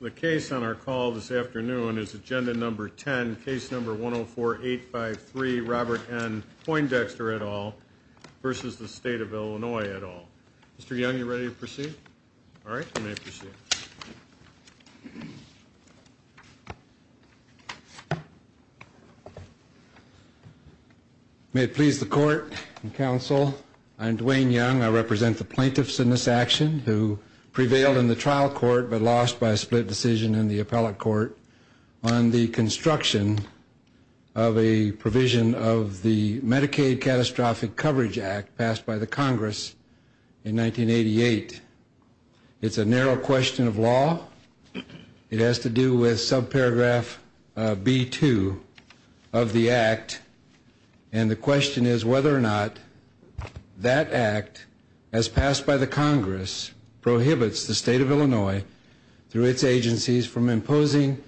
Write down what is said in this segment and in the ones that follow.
The case on our call this afternoon is Agenda No. 10, Case No. 104-853, Robert N. Poindexter et al. v. State of Illinois et al. Mr. Young, are you ready to proceed? All right, you may proceed. May it please the Court and Counsel, I am Dwayne Young. I represent the plaintiffs in this action who prevailed in the trial court but lost by a split decision in the appellate court on the construction of a provision of the Medicaid Catastrophic Coverage Act passed by the Congress in 1988. It's a narrow question of law. It has to do with subparagraph B-2 of the Act, and the question is whether or not that Act, as passed by the Congress, prohibits the State of Illinois through its agencies from imposing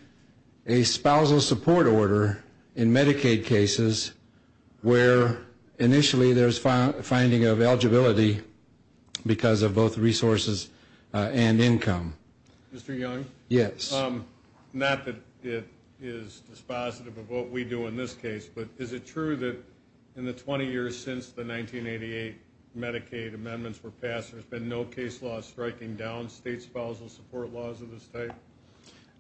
a spousal support order in Medicaid cases where initially there's finding of eligibility because of both resources and income. Mr. Young? Yes. Not that it is dispositive of what we do in this case, but is it true that in the 20 years since the 1988 Medicaid amendments were passed, there's been no case law striking down state spousal support laws of this type?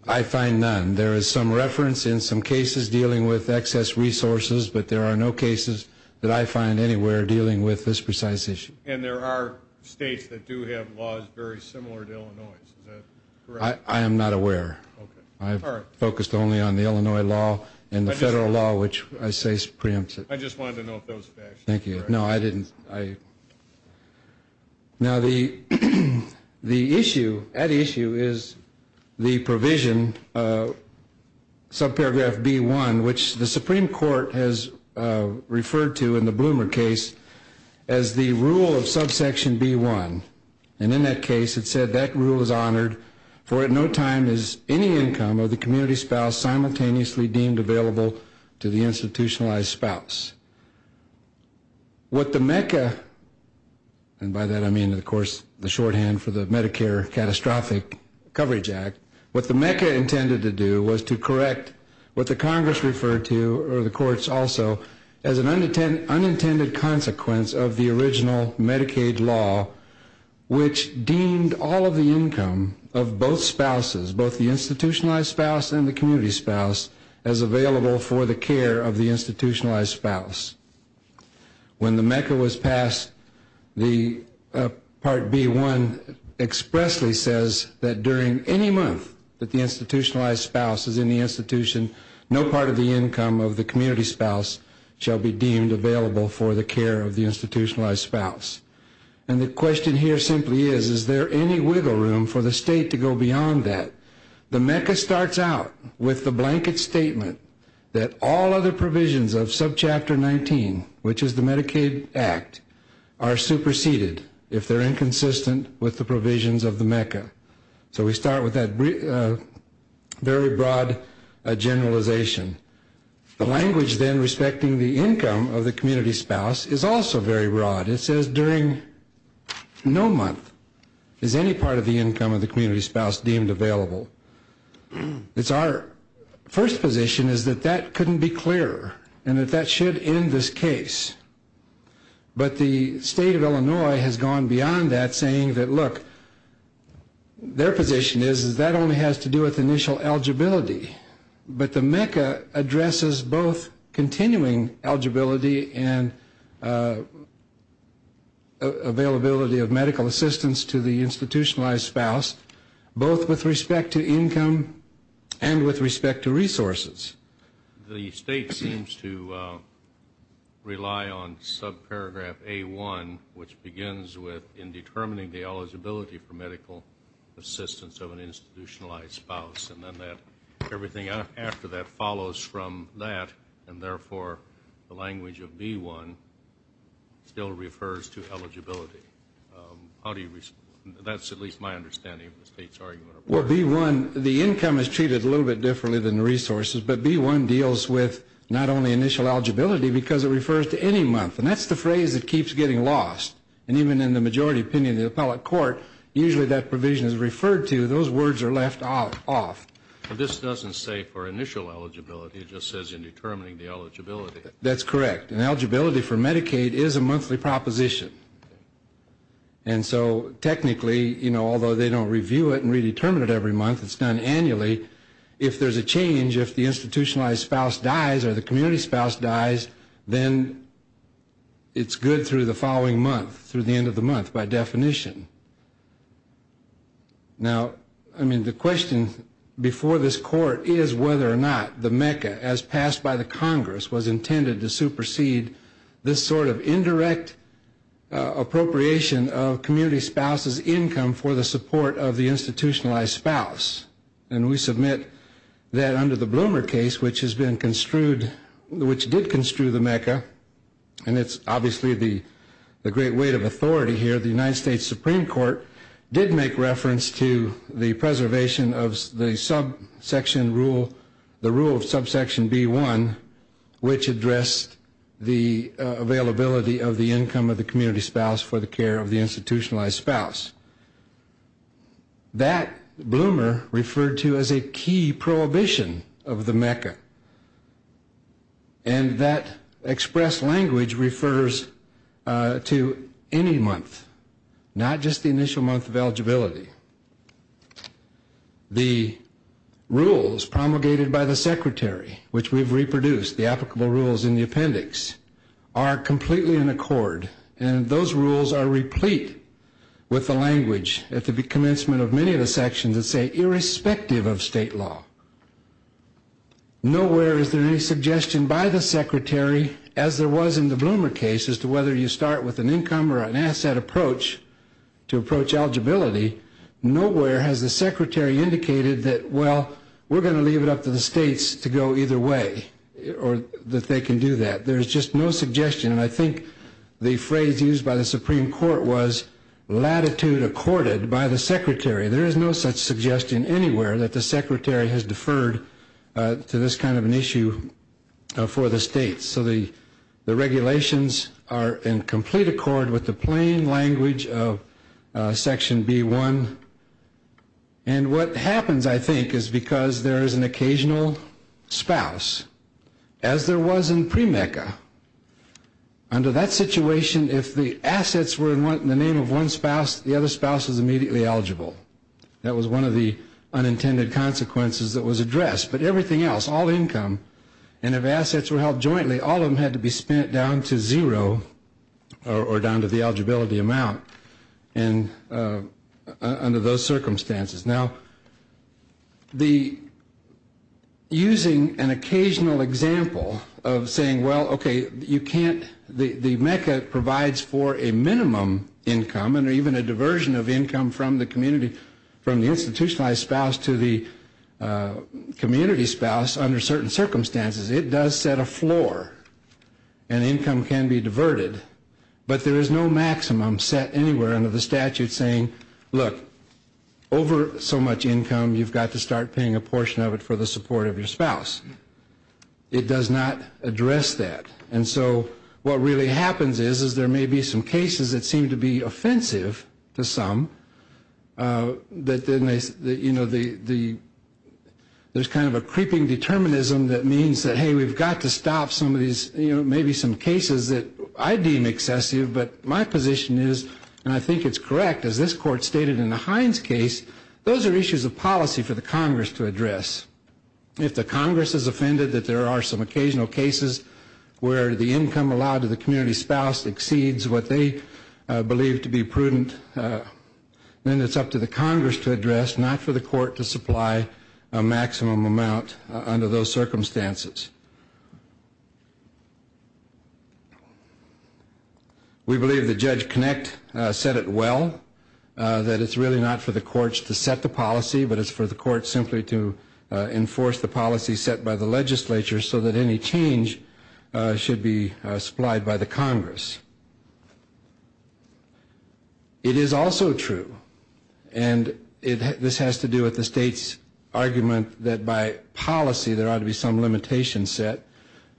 I find none. There is some reference in some cases dealing with excess resources, but there are no cases that I find anywhere dealing with this precise issue. And there are states that do have laws very similar to Illinois's. Is that correct? I am not aware. I've focused only on the Illinois law and the federal law, which I say preempts it. I just wanted to note those facts. Thank you. No, I didn't. Now, the issue, at issue, is the provision, subparagraph B-1, which the Supreme Court has referred to in the Bloomer case as the rule of subsection B-1. And in that case, it said, that rule is honored, for at no time is any income of the community spouse simultaneously deemed available to the institutionalized spouse. What the MECA, and by that I mean, of course, the shorthand for the Medicare Catastrophic Coverage Act, what the MECA intended to do was to correct what the Congress referred to, or the courts also, as an unintended consequence of the original Medicaid law, which deemed all of the income of both spouses, both the institutionalized spouse and the community spouse, as available for the care of the institutionalized spouse. When the MECA was passed, part B-1 expressly says that during any month that the institutionalized spouse is in the institution, no part of the income of the community spouse shall be deemed available for the care of the institutionalized spouse. And the question here simply is, is there any wiggle room for the state to go beyond that? The MECA starts out with the blanket statement that all other provisions of subchapter 19, which is the Medicaid Act, are superseded if they're inconsistent with the provisions of the MECA. So we start with that very broad generalization. The language then respecting the income of the community spouse is also very broad. It says during no month is any part of the income of the community spouse deemed available. It's our first position is that that couldn't be clearer, and that that should end this case. But the state of Illinois has gone beyond that, saying that, look, their position is that that only has to do with initial eligibility. But the MECA addresses both continuing eligibility and availability of medical assistance to the institutionalized spouse, both with respect to income and with respect to resources. The state seems to rely on subparagraph A-1, which begins with in determining the eligibility for medical assistance of an institutionalized spouse, and then everything after that follows from that, and therefore the language of B-1 still refers to eligibility. How do you respond? That's at least my understanding of the state's argument. Well, B-1, the income is treated a little bit differently than the resources, but B-1 deals with not only initial eligibility because it refers to any month. And that's the phrase that keeps getting lost. And even in the majority opinion of the appellate court, usually that provision is referred to. Those words are left off. But this doesn't say for initial eligibility. It just says in determining the eligibility. That's correct. And eligibility for Medicaid is a monthly proposition. And so technically, although they don't review it and redetermine it every month, it's done annually, if there's a change, if the institutionalized spouse dies or the community spouse dies, then it's good through the following month, through the end of the month by definition. Now, the question before this court is whether or not the MECA, as passed by the Congress, was intended to supersede this sort of indirect appropriation of community spouse's income for the support of the institutionalized spouse. And we submit that under the Bloomer case, which has been construed, which did construe the MECA, and it's obviously the great weight of authority here, the United States Supreme Court did make reference to the preservation of the subsection rule, the rule of subsection B-1, which addressed the availability of the income of the community spouse for the care of the institutionalized spouse. That Bloomer referred to as a key prohibition of the MECA. And that expressed language refers to any month, not just the initial month of eligibility. The rules promulgated by the Secretary, which we've reproduced, the applicable rules in the appendix, are completely in accord. And those rules are replete with the language at the commencement of many of the sections that say irrespective of state law. Nowhere is there any suggestion by the Secretary, as there was in the Bloomer case, as to whether you start with an income or an asset approach to approach eligibility. Nowhere has the Secretary indicated that, well, we're going to leave it up to the states to go either way, or that they can do that. There's just no suggestion. And I think the phrase used by the Supreme Court was latitude accorded by the Secretary. There is no such suggestion anywhere that the Secretary has deferred to this kind of an issue for the states. So the regulations are in complete accord with the plain language of Section B-1. And what happens, I think, is because there is an occasional spouse, as there was in pre-MECA. Under that situation, if the assets were in the name of one spouse, the other spouse was immediately eligible. That was one of the unintended consequences that was addressed. But everything else, all income, and if assets were held jointly, all of them had to be spent down to zero or down to the eligibility amount under those circumstances. Now, using an occasional example of saying, well, okay, the MECA provides for a minimum income and even a diversion of income from the institutionalized spouse to the community spouse under certain circumstances. It does set a floor, and income can be diverted. But there is no maximum set anywhere under the statute saying, look, over so much income, you've got to start paying a portion of it for the support of your spouse. It does not address that. And so what really happens is there may be some cases that seem to be offensive to some. There's kind of a creeping determinism that means that, hey, we've got to stop some of these, maybe some cases that I deem excessive. But my position is, and I think it's correct, as this Court stated in the Hines case, those are issues of policy for the Congress to address. If the Congress is offended that there are some occasional cases where the income allowed to the community spouse exceeds what they believe to be prudent, then it's up to the Congress to address, not for the Court to supply a maximum amount under those circumstances. We believe that Judge Kinect said it well, that it's really not for the courts to set the policy, but it's for the courts simply to enforce the policy set by the legislature so that any change should be supplied by the Congress. It is also true, and this has to do with the state's argument that by policy there ought to be some limitation set.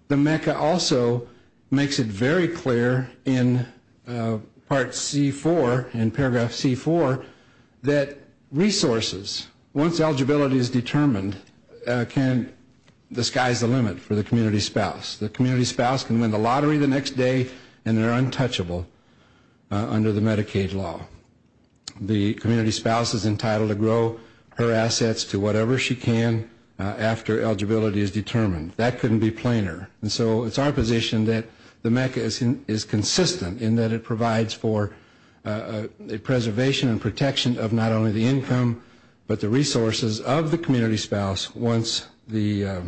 The MECA also makes it very clear in Paragraph C4 that resources, once eligibility is determined, can disguise the limit for the community spouse. The community spouse can win the lottery the next day, and they're untouchable under the Medicaid law. The community spouse is entitled to grow her assets to whatever she can after eligibility is determined. That couldn't be plainer. And so it's our position that the MECA is consistent in that it provides for preservation and protection of not only the income, but the resources of the community spouse once the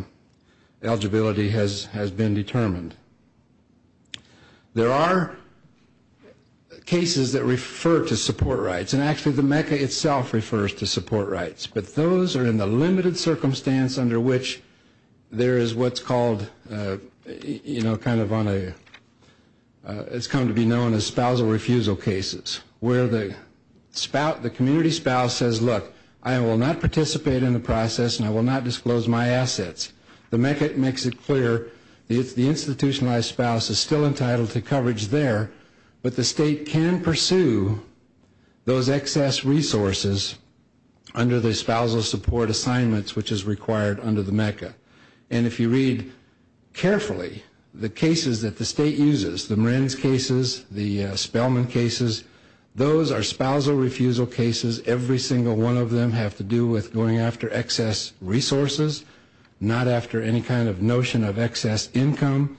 eligibility has been determined. There are cases that refer to support rights, and actually the MECA itself refers to support rights, but those are in the limited circumstance under which there is what's called, you know, it's come to be known as spousal refusal cases where the community spouse says, look, I will not participate in the process and I will not disclose my assets. The MECA makes it clear the institutionalized spouse is still entitled to coverage there, but the state can pursue those excess resources under the spousal support assignments which is required under the MECA. And if you read carefully, the cases that the state uses, the Marin's cases, the Spellman cases, those are spousal refusal cases. Every single one of them have to do with going after excess resources, not after any kind of notion of excess income.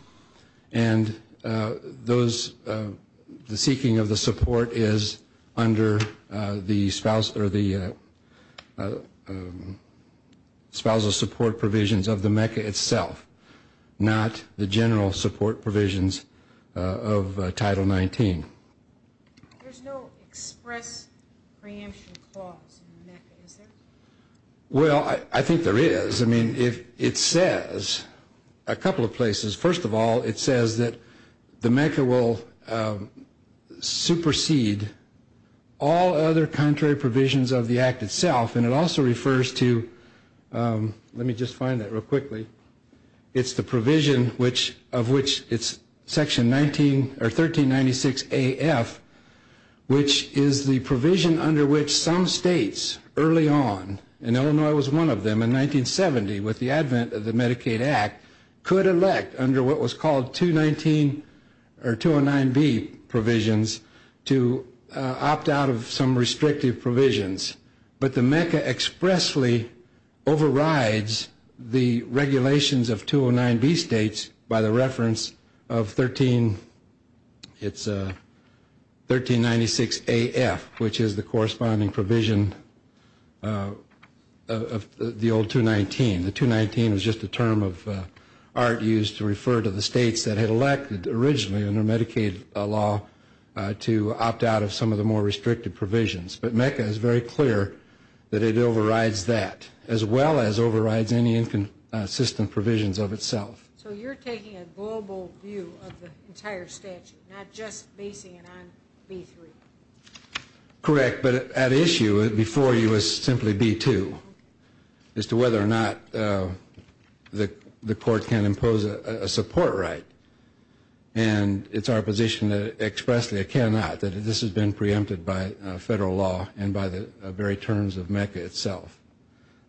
And the seeking of the support is under the spousal support provisions of the MECA itself, not the general support provisions of Title 19. There's no express preemption clause in the MECA, is there? Well, I think there is. I mean, it says a couple of places. First of all, it says that the MECA will supersede all other contrary provisions of the act itself. And it also refers to, let me just find that real quickly. It's the provision of which it's Section 1396 AF, which is the provision under which some states early on, and Illinois was one of them in 1970 with the advent of the Medicaid Act, could elect under what was called 209B provisions to opt out of some restrictive provisions. But the MECA expressly overrides the regulations of 209B states by the reference of 1396 AF, which is the corresponding provision of the old 219. The 219 was just a term of art used to refer to the states that had elected originally under Medicaid law to opt out of some of the more restrictive provisions. But MECA is very clear that it overrides that, as well as overrides any inconsistent provisions of itself. So you're taking a global view of the entire statute, not just basing it on B-3? Correct, but at issue before you is simply B-2, as to whether or not the court can impose a support right. And it's our position that expressly it cannot, that this has been preempted by federal law and by the very terms of MECA itself.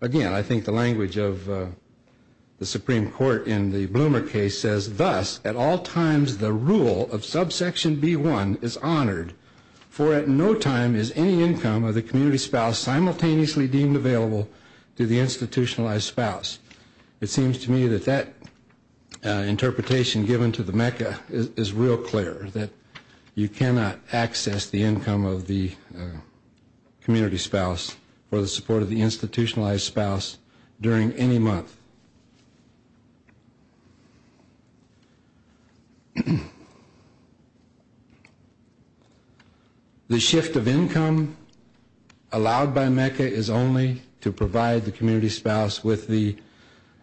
Again, I think the language of the Supreme Court in the Bloomer case says, thus, at all times the rule of subsection B-1 is honored, for at no time is any income of the community spouse simultaneously deemed available to the institutionalized spouse. It seems to me that that interpretation given to the MECA is real clear, that you cannot access the income of the community spouse for the support of the institutionalized spouse during any month. The shift of income allowed by MECA is only to provide the community spouse with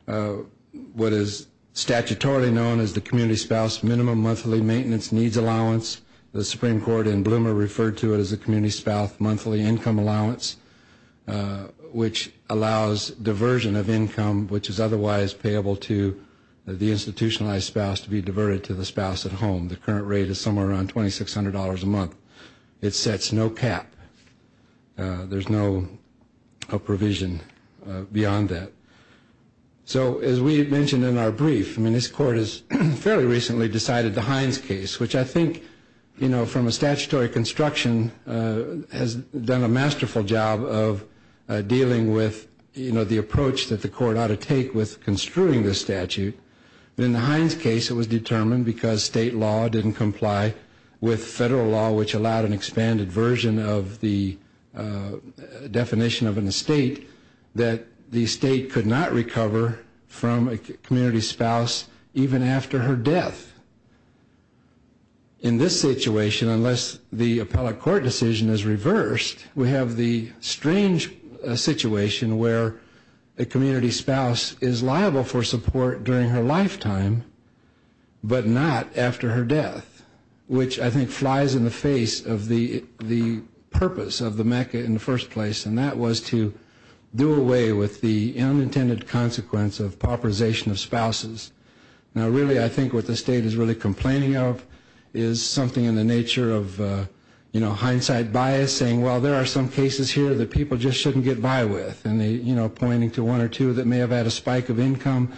what is statutorily known as the community spouse minimum monthly maintenance needs allowance. The Supreme Court in Bloomer referred to it as the community spouse monthly income allowance, which allows diversion of income which is otherwise payable to the institutionalized spouse to be diverted to the spouse at home. The current rate is somewhere around $2,600 a month. It sets no cap. There's no provision beyond that. So, as we mentioned in our brief, this court has fairly recently decided the Hines case, which I think from a statutory construction has done a masterful job of dealing with the approach that the court ought to take with construing this statute. In the Hines case, it was determined because state law didn't comply with federal law, which allowed an expanded version of the definition of an estate, that the estate could not recover from a community spouse even after her death. In this situation, unless the appellate court decision is reversed, we have the strange situation where a community spouse is liable for support during her lifetime, but not after her death, which I think flies in the face of the purpose of the mecca in the first place, and that was to do away with the unintended consequence of pauperization of spouses. Now, really, I think what the state is really complaining of is something in the nature of hindsight bias, saying, well, there are some cases here that people just shouldn't get by with, and pointing to one or two that may have had a spike of income,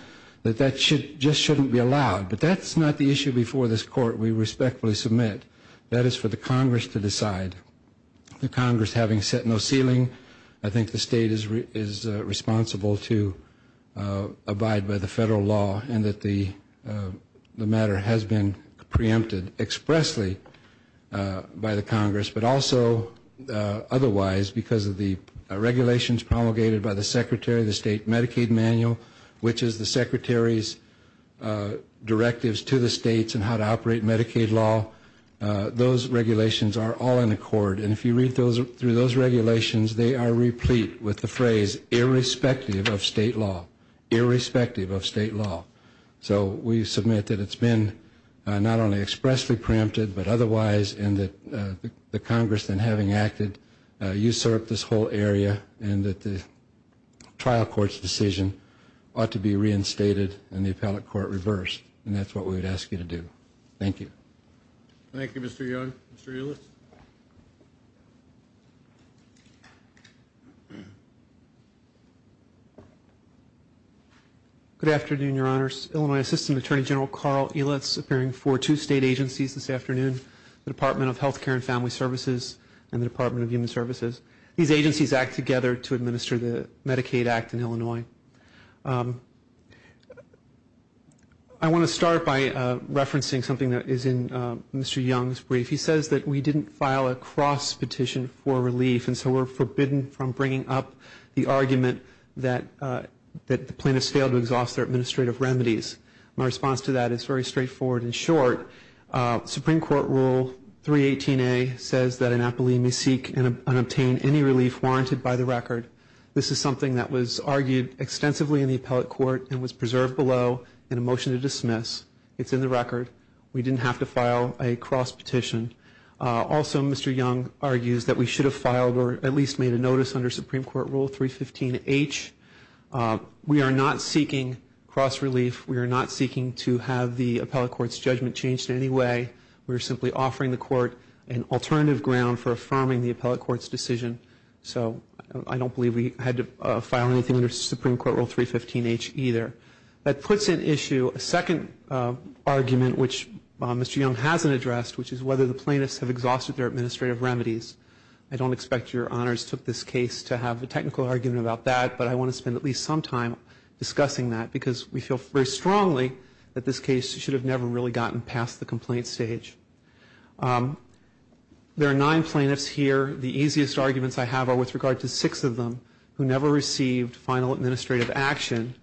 that that just shouldn't be allowed. But that's not the issue before this court we respectfully submit. That is for the Congress to decide. The Congress having set no ceiling, I think the state is responsible to abide by the federal law and that the matter has been preempted expressly by the Congress, but also otherwise because of the regulations promulgated by the Secretary of the State Medicaid Manual, which is the Secretary's directives to the states on how to operate Medicaid law. Those regulations are all in accord, and if you read through those regulations, they are replete with the phrase, irrespective of state law, irrespective of state law. So we submit that it's been not only expressly preempted, but otherwise, and that the Congress, in having acted, usurped this whole area, and that the trial court's decision ought to be reinstated and the appellate court reversed. And that's what we would ask you to do. Thank you. Thank you, Mr. Young. Mr. Ehlitz. Good afternoon, Your Honors. Illinois Assistant Attorney General Carl Ehlitz, appearing for two state agencies this afternoon, the Department of Health Care and Family Services and the Department of Human Services. These agencies act together to administer the Medicaid Act in Illinois. I want to start by referencing something that is in Mr. Young's brief. He says that we didn't file a cross petition for relief, and so we're forbidden from bringing up the argument that the plaintiffs failed to exhaust their administrative remedies. My response to that is very straightforward and short. Supreme Court Rule 318A says that an appellee may seek and obtain any relief warranted by the record. This is something that was argued extensively in the appellate court and was preserved below in a motion to dismiss. It's in the record. We didn't have to file a cross petition. Also, Mr. Young argues that we should have filed or at least made a notice under Supreme Court Rule 315H. We are not seeking cross relief. We are not seeking to have the appellate court's judgment changed in any way. We are simply offering the court an alternative ground for affirming the appellate court's decision. So I don't believe we had to file anything under Supreme Court Rule 315H either. That puts at issue a second argument, which Mr. Young hasn't addressed, which is whether the plaintiffs have exhausted their administrative remedies. I don't expect your honors took this case to have a technical argument about that, but I want to spend at least some time discussing that because we feel very strongly that this case should have never really gotten past the complaint stage. There are nine plaintiffs here. The easiest arguments I have are with regard to six of them who never received final administrative action.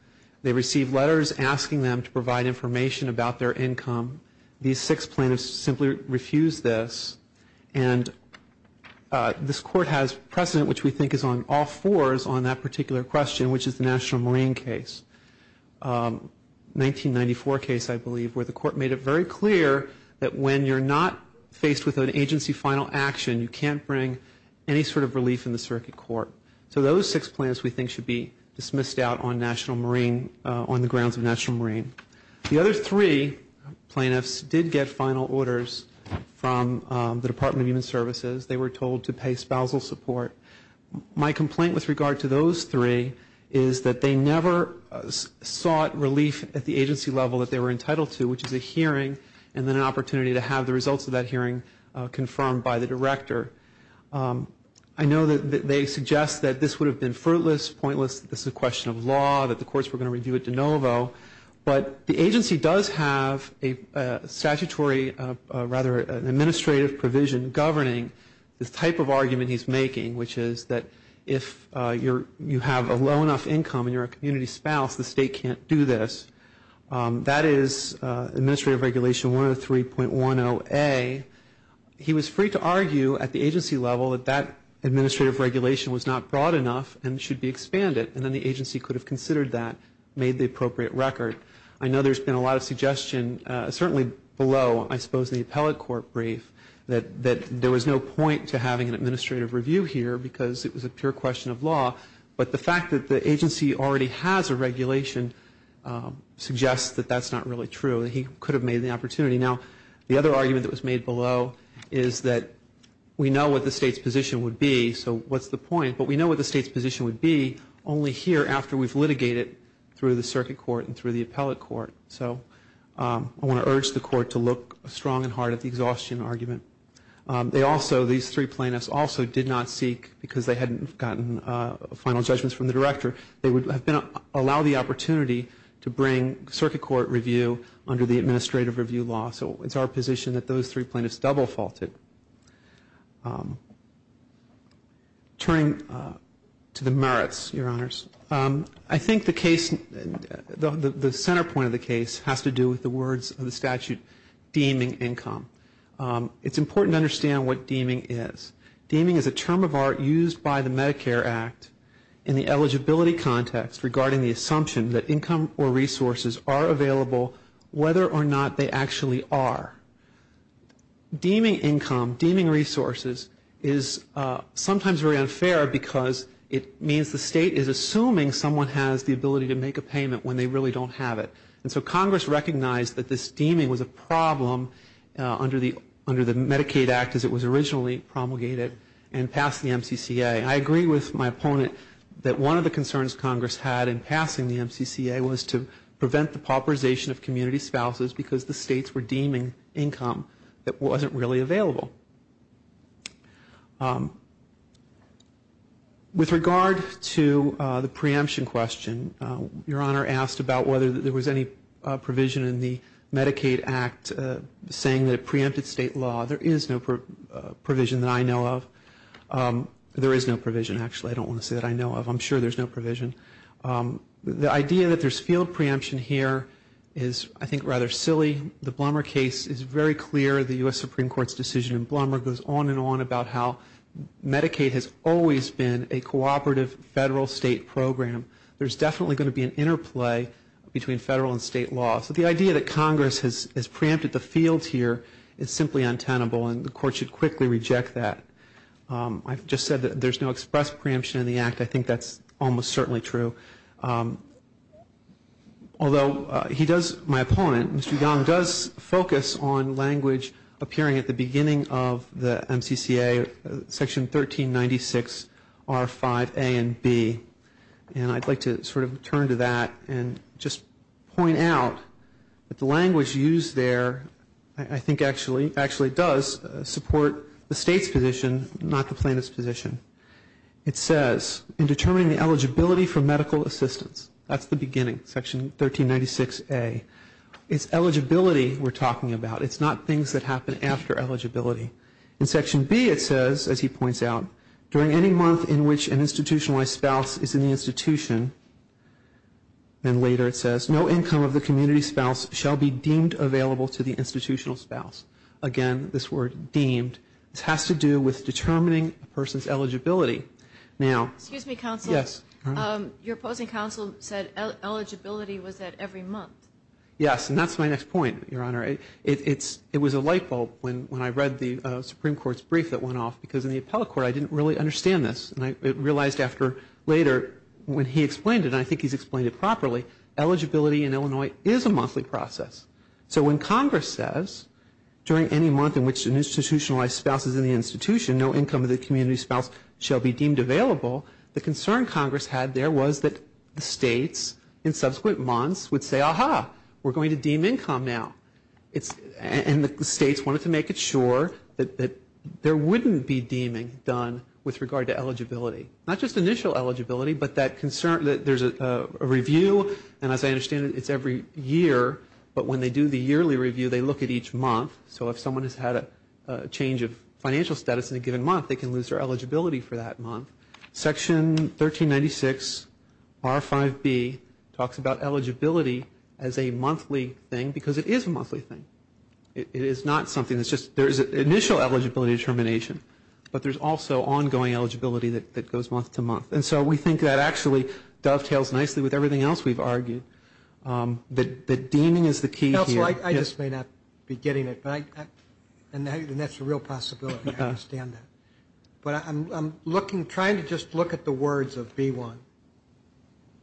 They received letters asking them to provide information about their income. These six plaintiffs simply refused this. And this court has precedent which we think is on all fours on that particular question, which is the National Marine case, 1994 case I believe, where the court made it very clear that when you're not faced with an agency final action, you can't bring any sort of relief in the circuit court. So those six plaintiffs we think should be dismissed out on National Marine, on the grounds of National Marine. The other three plaintiffs did get final orders from the Department of Human Services. They were told to pay spousal support. My complaint with regard to those three is that they never sought relief at the agency level that they were entitled to, which is a hearing and then an opportunity to have the results of that hearing confirmed by the director. I know that they suggest that this would have been fruitless, pointless, that this is a question of law, that the courts were going to review it de novo. But the agency does have a statutory, rather an administrative provision, governing the type of argument he's making, which is that if you have a low enough income and you're a community spouse, the state can't do this. That is Administrative Regulation 103.10a. He was free to argue at the agency level that that administrative regulation was not broad enough and should be expanded. And then the agency could have considered that, made the appropriate record. I know there's been a lot of suggestion, certainly below, I suppose, in the appellate court brief that there was no point to having an administrative review here because it was a pure question of law. But the fact that the agency already has a regulation suggests that that's not really true, that he could have made the opportunity. Now, the other argument that was made below is that we know what the state's position would be, so what's the point? But we know what the state's position would be only here after we've litigated through the circuit court and through the appellate court. So I want to urge the court to look strong and hard at the exhaustion argument. They also, these three plaintiffs, also did not seek, because they hadn't gotten final judgments from the director, they would have allowed the opportunity to bring circuit court review under the administrative review law. So it's our position that those three plaintiffs double faulted. Turning to the merits, Your Honors, I think the case, the center point of the case, has to do with the words of the statute deeming income. It's important to understand what deeming is. Deeming is a term of art used by the Medicare Act in the eligibility context regarding the assumption that income or resources are available whether or not they actually are. Deeming income, deeming resources, is sometimes very unfair because it means the state is assuming someone has the ability to make a payment when they really don't have it. And so Congress recognized that this deeming was a problem under the Medicaid Act as it was originally promulgated and passed the MCCA. And I agree with my opponent that one of the concerns Congress had in passing the MCCA was to prevent the pauperization of community spouses because the states were deeming income that wasn't really available. With regard to the preemption question, Your Honor asked about whether there was any provision in the Medicaid Act saying that it preempted state law. There is no provision that I know of. There is no provision, actually. I don't want to say that I know of. I'm sure there's no provision. The idea that there's field preemption here is, I think, rather silly. The Blummer case is very clear. The U.S. Supreme Court's decision in Blummer goes on and on about how Medicaid has always been a cooperative federal-state program. There's definitely going to be an interplay between federal and state law. So the idea that Congress has preempted the field here is simply untenable and the Court should quickly reject that. I've just said that there's no express preemption in the Act. I think that's almost certainly true. Although my opponent, Mr. Young, does focus on language appearing at the beginning of the MCCA, Section 1396, R5a and b. And I'd like to sort of turn to that and just point out that the language used there, I think actually does support the state's position, not the plaintiff's position. It says, in determining the eligibility for medical assistance, that's the beginning, Section 1396a. It's eligibility we're talking about. It's not things that happen after eligibility. In Section b, it says, as he points out, during any month in which an institutionalized spouse is in the institution, and later it says, no income of the community spouse shall be deemed available to the institutional spouse. Again, this word deemed. This has to do with determining a person's eligibility. Now- Excuse me, Counsel. Yes. Your opposing counsel said eligibility was at every month. Yes, and that's my next point, Your Honor. It was a light bulb when I read the Supreme Court's brief that went off, because in the appellate court I didn't really understand this. And I realized after later when he explained it, and I think he's explained it properly, eligibility in Illinois is a monthly process. So when Congress says, during any month in which an institutionalized spouse is in the institution, no income of the community spouse shall be deemed available, the concern Congress had there was that the states in subsequent months would say, ah-ha, we're going to deem income now. And the states wanted to make it sure that there wouldn't be deeming done with regard to eligibility. Not just initial eligibility, but that there's a review, and as I understand it, it's every year. But when they do the yearly review, they look at each month. So if someone has had a change of financial status in a given month, they can lose their eligibility for that month. Section 1396R5B talks about eligibility as a monthly thing, because it is a monthly thing. It is not something that's just, there's initial eligibility determination, but there's also ongoing eligibility that goes month to month. And so we think that actually dovetails nicely with everything else we've argued. That deeming is the key here. I just may not be getting it, and that's a real possibility. I understand that. But I'm looking, trying to just look at the words of B1.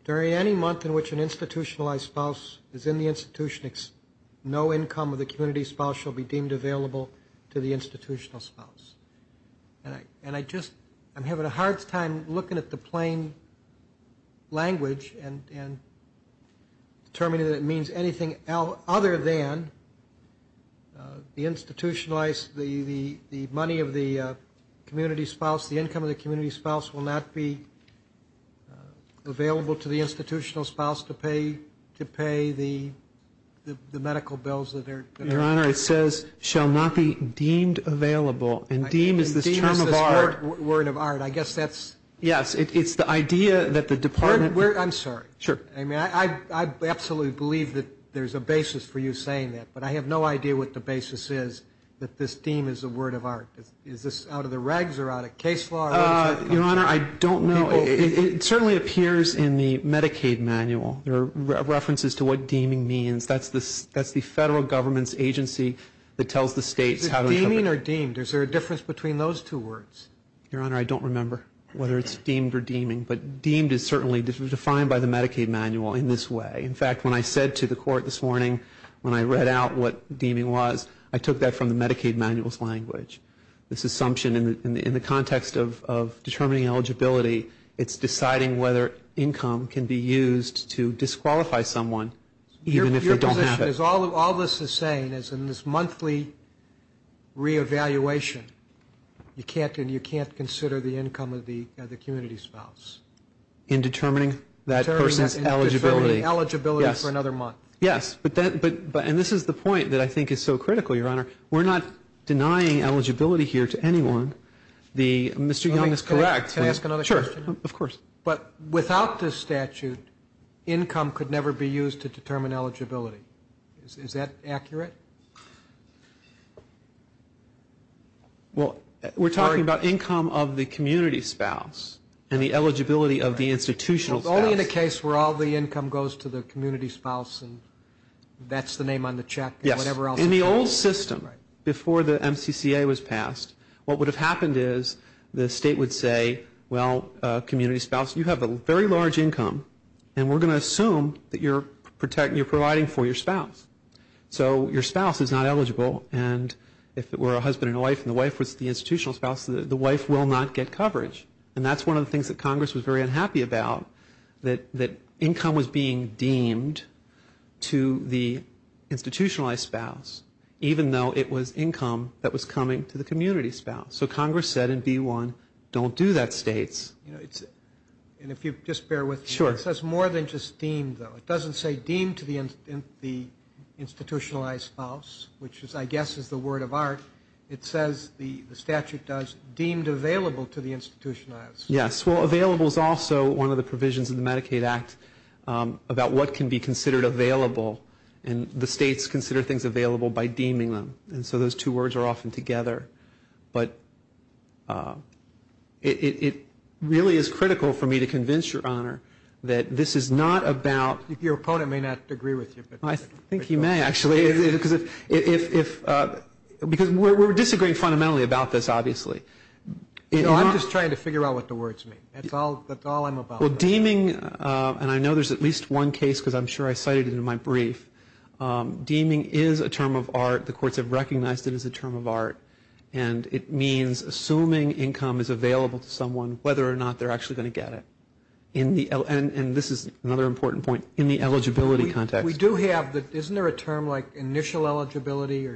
During any month in which an institutionalized spouse is in the institution, no income of the community spouse shall be deemed available to the institutional spouse. And I just, I'm having a hard time looking at the plain language and determining that it means anything other than the institutionalized, the money of the community spouse, the income of the community spouse, will not be available to the institutional spouse to pay the medical bills that are. Your Honor, it says shall not be deemed available. And deem is this term of art. Word of art. I guess that's. Yes, it's the idea that the department. I'm sorry. Sure. I mean, I absolutely believe that there's a basis for you saying that. But I have no idea what the basis is that this deem is a word of art. Is this out of the regs or out of case law? Your Honor, I don't know. It certainly appears in the Medicaid manual. There are references to what deeming means. That's the federal government's agency that tells the states. Is it deeming or deemed? Is there a difference between those two words? Your Honor, I don't remember whether it's deemed or deeming. But deemed is certainly defined by the Medicaid manual in this way. In fact, when I said to the court this morning, when I read out what deeming was, I took that from the Medicaid manual's language. This assumption in the context of determining eligibility, it's deciding whether income can be used to disqualify someone even if they don't have it. Your position is all this is saying is in this monthly reevaluation, you can't consider the income of the community spouse. In determining that person's eligibility. In determining eligibility for another month. Yes. And this is the point that I think is so critical, Your Honor. We're not denying eligibility here to anyone. Mr. Young is correct. Can I ask another question? Sure. Of course. But without this statute, income could never be used to determine eligibility. Is that accurate? Well, we're talking about income of the community spouse and the eligibility of the institutional spouse. Only in a case where all the income goes to the community spouse and that's the name on the check and whatever else. Yes. In the old system, before the MCCA was passed, what would have happened is the state would say, well, community spouse, you have a very large income and we're going to assume that you're providing for your spouse. So your spouse is not eligible and if it were a husband and a wife and the wife was the institutional spouse, the wife will not get coverage. And that's one of the things that Congress was very unhappy about, that income was being deemed to the institutionalized spouse, even though it was income that was coming to the community spouse. So Congress said in B-1, don't do that, states. And if you just bear with me. Sure. It says more than just deemed, though. It doesn't say deemed to the institutionalized spouse, which I guess is the word of art. It says, the statute does, deemed available to the institutionalized. Yes. Well, available is also one of the provisions of the Medicaid Act about what can be considered available and the states consider things available by deeming them. And so those two words are often together. But it really is critical for me to convince Your Honor that this is not about. Your opponent may not agree with you. I think he may, actually. Because we're disagreeing fundamentally about this, obviously. I'm just trying to figure out what the words mean. That's all I'm about. Well, deeming, and I know there's at least one case, because I'm sure I cited it in my brief. Deeming is a term of art. The courts have recognized it as a term of art. And it means assuming income is available to someone, whether or not they're actually going to get it. And this is another important point, in the eligibility context. We do have, isn't there a term like initial eligibility?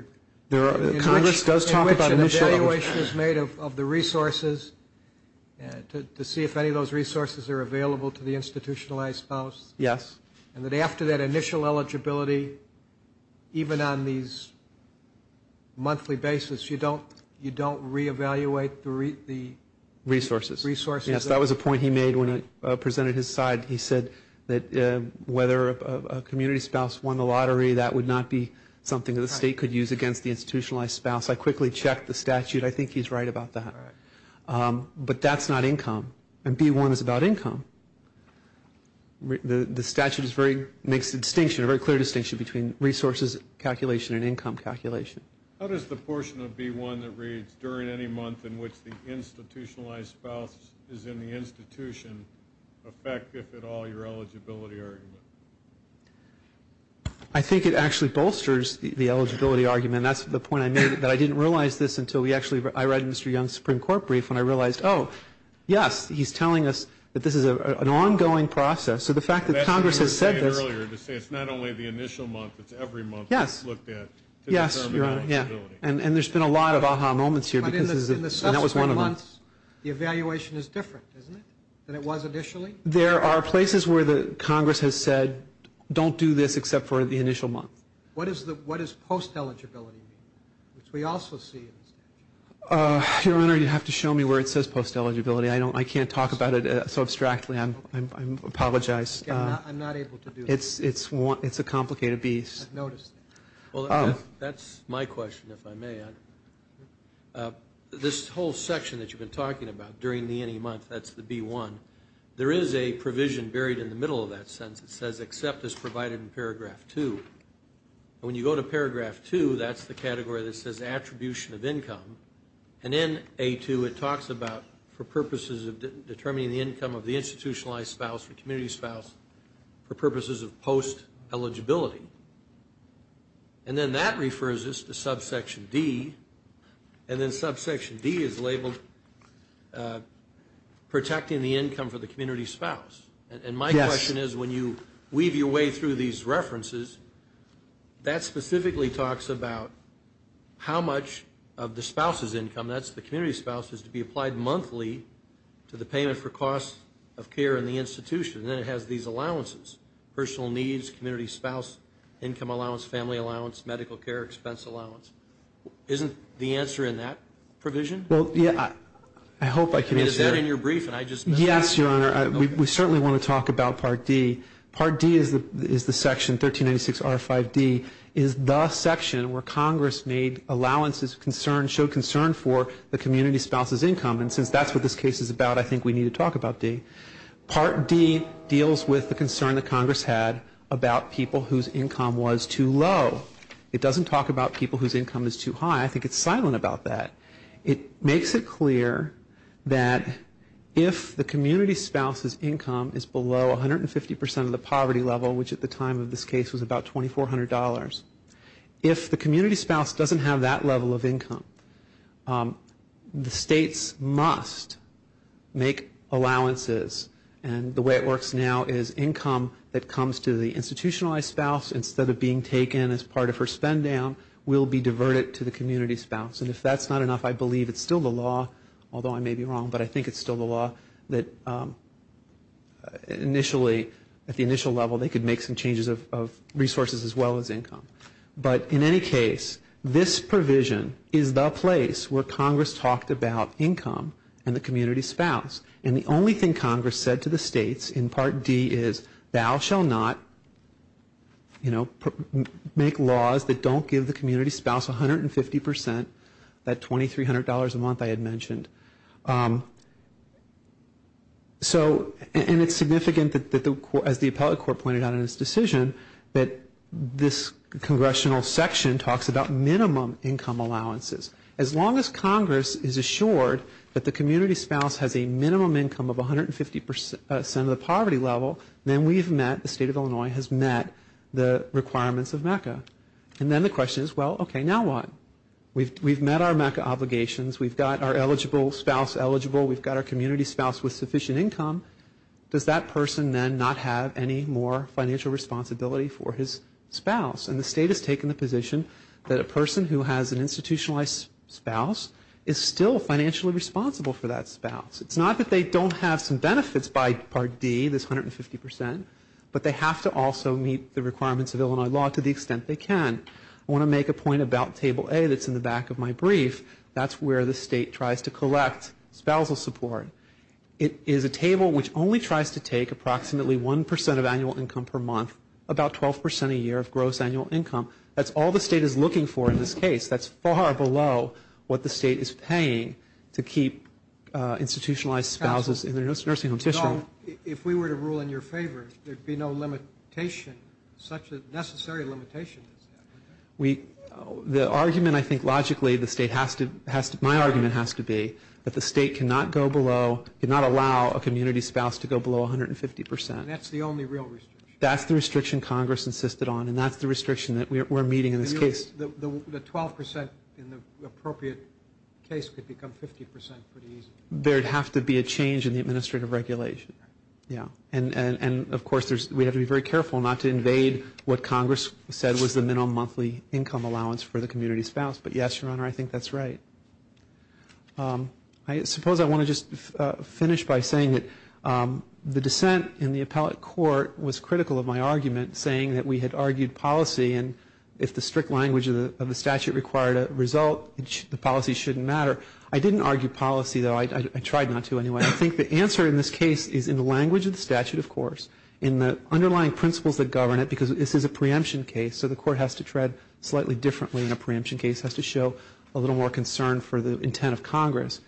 Congress does talk about initial eligibility. In which an evaluation is made of the resources to see if any of those resources are available to the institutionalized spouse. Yes. And that after that initial eligibility, even on these monthly basis, you don't reevaluate the resources. Yes, that was a point he made when I presented his side. He said that whether a community spouse won the lottery, that would not be something that the state could use against the institutionalized spouse. I quickly checked the statute. I think he's right about that. But that's not income. And B-1 is about income. The statute makes a distinction, a very clear distinction, between resources calculation and income calculation. How does the portion of B-1 that reads, during any month in which the institutionalized spouse is in the institution, affect, if at all, your eligibility argument? I think it actually bolsters the eligibility argument. That's the point I made. But I didn't realize this until I read Mr. Young's Supreme Court brief when I realized, oh, yes, he's telling us that this is an ongoing process. So the fact that Congress has said this. That's what you were saying earlier, to say it's not only the initial month, it's every month that's looked at to determine eligibility. Yes, Your Honor. And there's been a lot of aha moments here because that was one of them. But in the subsequent months, the evaluation is different, isn't it, than it was initially? There are places where Congress has said, don't do this except for the initial month. What does post-eligibility mean, which we also see in the statute? Your Honor, you'd have to show me where it says post-eligibility. I can't talk about it so abstractly. I apologize. I'm not able to do that. It's a complicated beast. I've noticed. Well, that's my question, if I may. This whole section that you've been talking about, during the any month, that's the B1. There is a provision buried in the middle of that sentence. It says, except as provided in Paragraph 2. When you go to Paragraph 2, that's the category that says attribution of income. And in A2, it talks about for purposes of determining the income of the institutionalized spouse, the community spouse, for purposes of post-eligibility. And then that refers us to Subsection D. And then Subsection D is labeled protecting the income for the community spouse. And my question is, when you weave your way through these references, that specifically talks about how much of the spouse's income, that's the community spouse, is to be applied monthly to the payment for costs of care in the institution. And then it has these allowances, personal needs, community spouse, income allowance, family allowance, medical care expense allowance. Isn't the answer in that provision? Well, yeah, I hope I can answer that. I mean, is that in your brief? Yes, Your Honor. We certainly want to talk about Part D. Part D is the section, 1396R5D, is the section where Congress made allowances of concern, showed concern for the community spouse's income. And since that's what this case is about, I think we need to talk about D. Part D deals with the concern that Congress had about people whose income was too low. It doesn't talk about people whose income is too high. I think it's silent about that. It makes it clear that if the community spouse's income is below 150% of the poverty level, which at the time of this case was about $2,400, if the community spouse doesn't have that level of income, the states must make allowances. And the way it works now is income that comes to the institutionalized spouse, instead of being taken as part of her spend down, will be diverted to the community spouse. And if that's not enough, I believe it's still the law, although I may be wrong, but I think it's still the law that initially, at the initial level, they could make some changes of resources as well as income. But in any case, this provision is the place where Congress talked about income and the community spouse. And the only thing Congress said to the states in Part D is, Thou shall not, you know, make laws that don't give the community spouse 150% of that $2,300 a month I had mentioned. And it's significant, as the appellate court pointed out in its decision, that this congressional section talks about minimum income allowances. As long as Congress is assured that the community spouse has a minimum income of 150% of the poverty level, then we've met, the state of Illinois has met the requirements of MECA. And then the question is, well, okay, now what? We've met our MECA obligations. We've got our eligible spouse eligible. We've got our community spouse with sufficient income. Does that person then not have any more financial responsibility for his spouse? And the state has taken the position that a person who has an institutionalized spouse is still financially responsible for that spouse. It's not that they don't have some benefits by Part D, this 150%, but they have to also meet the requirements of Illinois law to the extent they can. I want to make a point about Table A that's in the back of my brief. That's where the state tries to collect spousal support. It is a table which only tries to take approximately 1% of annual income per month, about 12% a year of gross annual income. That's all the state is looking for in this case. That's far below what the state is paying to keep institutionalized spouses in their nursing home. If we were to rule in your favor, there would be no limitation, such a necessary limitation. The argument, I think, logically the state has to, my argument has to be that the state cannot go below, cannot allow a community spouse to go below 150%. And that's the only real restriction. That's the restriction Congress insisted on, and that's the restriction that we're meeting in this case. The 12% in the appropriate case could become 50% pretty easily. There would have to be a change in the administrative regulation. And, of course, we have to be very careful not to invade what Congress said was the minimum monthly income allowance for the community spouse. But, yes, Your Honor, I think that's right. I suppose I want to just finish by saying that the dissent in the appellate court was critical of my argument, saying that we had argued policy and if the strict language of the statute required a result, the policy shouldn't matter. I didn't argue policy, though. I tried not to anyway. I think the answer in this case is in the language of the statute, of course, in the underlying principles that govern it, because this is a preemption case, so the court has to tread slightly differently in a preemption case, has to show a little more concern for the intent of Congress.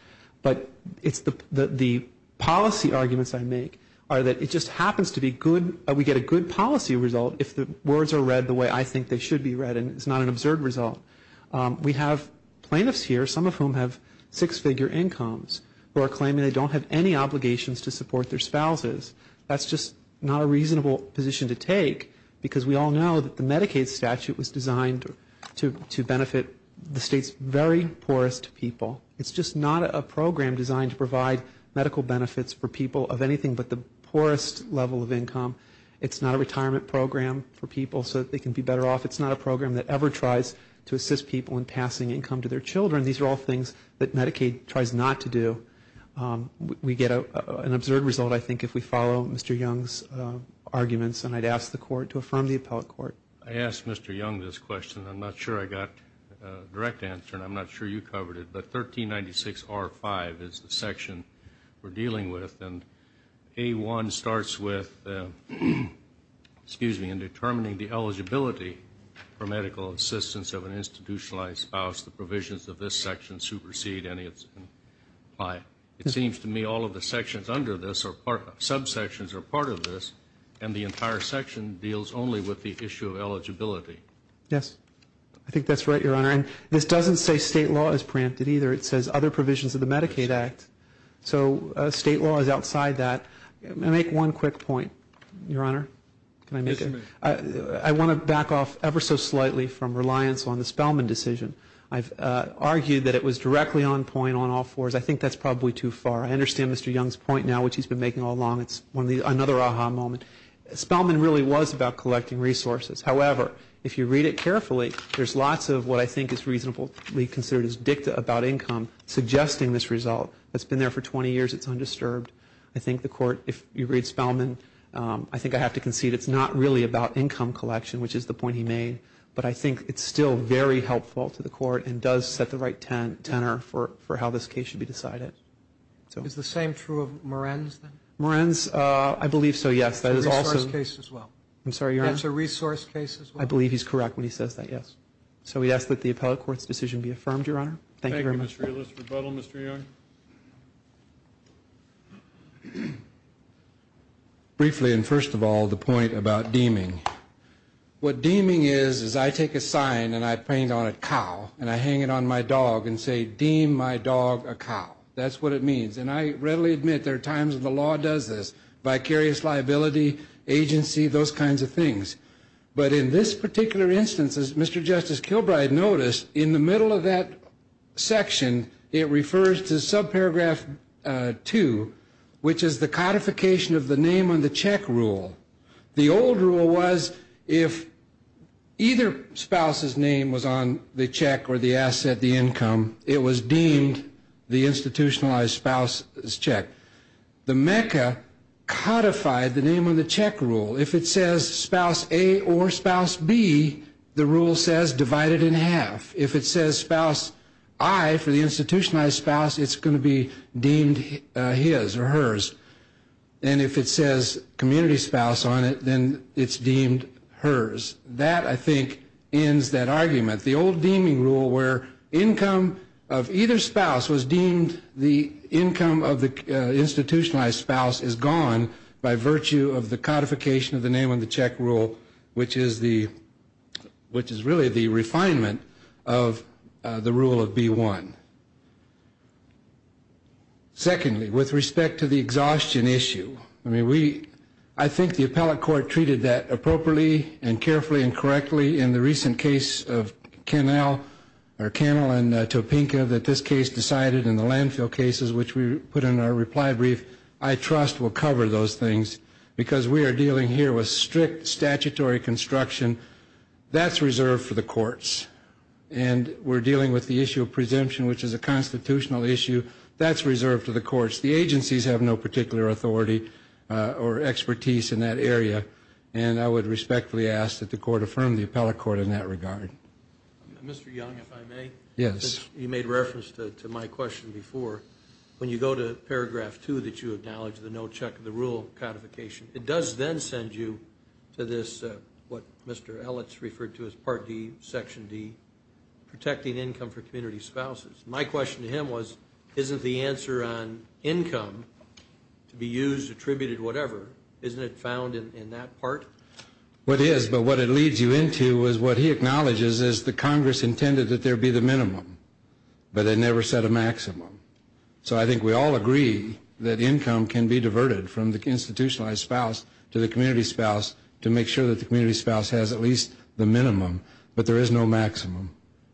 But the policy arguments I make are that it just happens to be good, we get a good policy result if the words are read the way I think they should be read and it's not an absurd result. We have plaintiffs here, some of whom have six-figure incomes, who are claiming they don't have any obligations to support their spouses. That's just not a reasonable position to take because we all know that the Medicaid statute was designed to benefit the state's very poorest people. It's just not a program designed to provide medical benefits for people of anything but the poorest level of income. It's not a retirement program for people so that they can be better off. It's not a program that ever tries to assist people in passing income to their children. These are all things that Medicaid tries not to do. We get an absurd result, I think, if we follow Mr. Young's arguments, and I'd ask the court to affirm the appellate court. I asked Mr. Young this question. I'm not sure I got a direct answer, and I'm not sure you covered it, but 1396R5 is the section we're dealing with, and A1 starts with determining the eligibility for medical assistance of an institutionalized spouse. The provisions of this section supersede any that's implied. It seems to me all of the subsections are part of this, and the entire section deals only with the issue of eligibility. Yes, I think that's right, Your Honor. And this doesn't say state law is preempted either. It says other provisions of the Medicaid Act. So state law is outside that. I'll make one quick point, Your Honor. Can I make it? I want to back off ever so slightly from reliance on the Spellman decision. I've argued that it was directly on point on all fours. I think that's probably too far. I understand Mr. Young's point now, which he's been making all along. It's another aha moment. Spellman really was about collecting resources. However, if you read it carefully, there's lots of what I think is reasonably considered as dicta about income suggesting this result. It's been there for 20 years. It's undisturbed. I think the court, if you read Spellman, I think I have to concede it's not really about income collection, which is the point he made, but I think it's still very helpful to the court and does set the right tenor for how this case should be decided. Is the same true of Moran's then? Moran's, I believe so, yes. That is also. It's a resource case as well. I believe he's correct when he says that, yes. So we ask that the appellate court's decision be affirmed, Your Honor. Thank you very much. Thank you, Mr. Realist. Rebuttal, Mr. Young? Briefly, and first of all, the point about deeming. What deeming is is I take a sign and I paint on it cow, and I hang it on my dog and say deem my dog a cow. That's what it means. And I readily admit there are times when the law does this, vicarious liability, agency, those kinds of things. But in this particular instance, as Mr. Justice Kilbride noticed, in the middle of that section it refers to subparagraph 2, which is the codification of the name on the check rule. The old rule was if either spouse's name was on the check or the asset, the income, it was deemed the institutionalized spouse's check. The mecca codified the name on the check rule. If it says spouse A or spouse B, the rule says divide it in half. If it says spouse I for the institutionalized spouse, it's going to be deemed his or hers. And if it says community spouse on it, then it's deemed hers. That, I think, ends that argument. The old deeming rule where income of either spouse was deemed the income of the codification of the name on the check rule, which is really the refinement of the rule of B-1. Secondly, with respect to the exhaustion issue, I think the appellate court treated that appropriately and carefully and correctly in the recent case of Cannell and Topinka that this case decided in the landfill cases which we put in our reply brief. I trust we'll cover those things because we are dealing here with strict statutory construction. That's reserved for the courts. And we're dealing with the issue of presumption, which is a constitutional issue. That's reserved to the courts. The agencies have no particular authority or expertise in that area. And I would respectfully ask that the court affirm the appellate court in that regard. Mr. Young, if I may. Yes. You made reference to my question before. When you go to Paragraph 2 that you acknowledge the no check of the rule codification, it does then send you to this, what Mr. Ellis referred to as Part D, Section D, protecting income for community spouses. My question to him was, isn't the answer on income to be used, attributed, whatever, isn't it found in that part? It is. But what it leads you into is what he acknowledges is the Congress intended that there be the minimum. But they never set a maximum. So I think we all agree that income can be diverted from the institutionalized spouse to the community spouse to make sure that the community spouse has at least the minimum. But there is no maximum.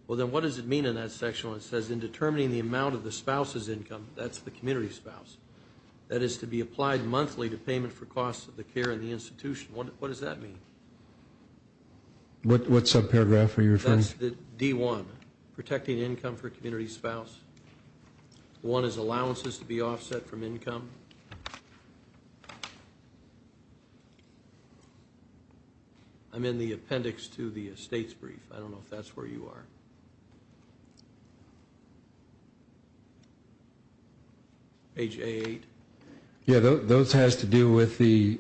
Well, then what does it mean in that section when it says, in determining the amount of the spouse's income, that's the community spouse, that is to be applied monthly to payment for costs of the care in the institution. What does that mean? What subparagraph are you referring to? That's the D1, protecting income for community spouse. One is allowances to be offset from income. I'm in the appendix to the estates brief. I don't know if that's where you are. Page A8. Yeah, those has to do with the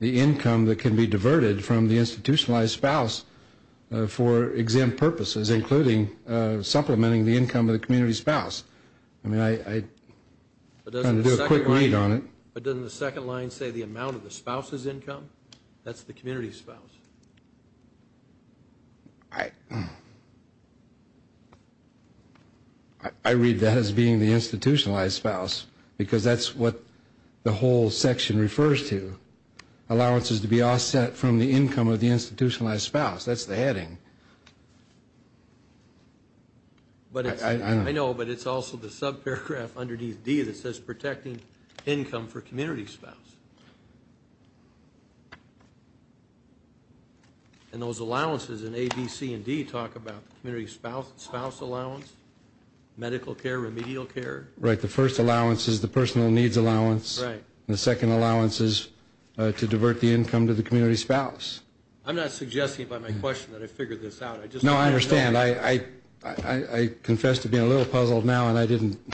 income that can be diverted from the institutionalized spouse for exempt purposes, including supplementing the income of the community spouse. I'm going to do a quick read on it. But doesn't the second line say the amount of the spouse's income? That's the community spouse. I read that as being the institutionalized spouse because that's what the whole section refers to, allowances to be offset from the income of the institutionalized spouse. That's the heading. I know, but it's also the subparagraph underneath D that says protecting income for community spouse. And those allowances in A, B, C, and D talk about community spouse allowance, medical care, remedial care. Right. The first allowance is the personal needs allowance. Right. And the second allowance is to divert the income to the community spouse. I'm not suggesting by my question that I figured this out. No, I understand. I confess to being a little puzzled now, and I didn't.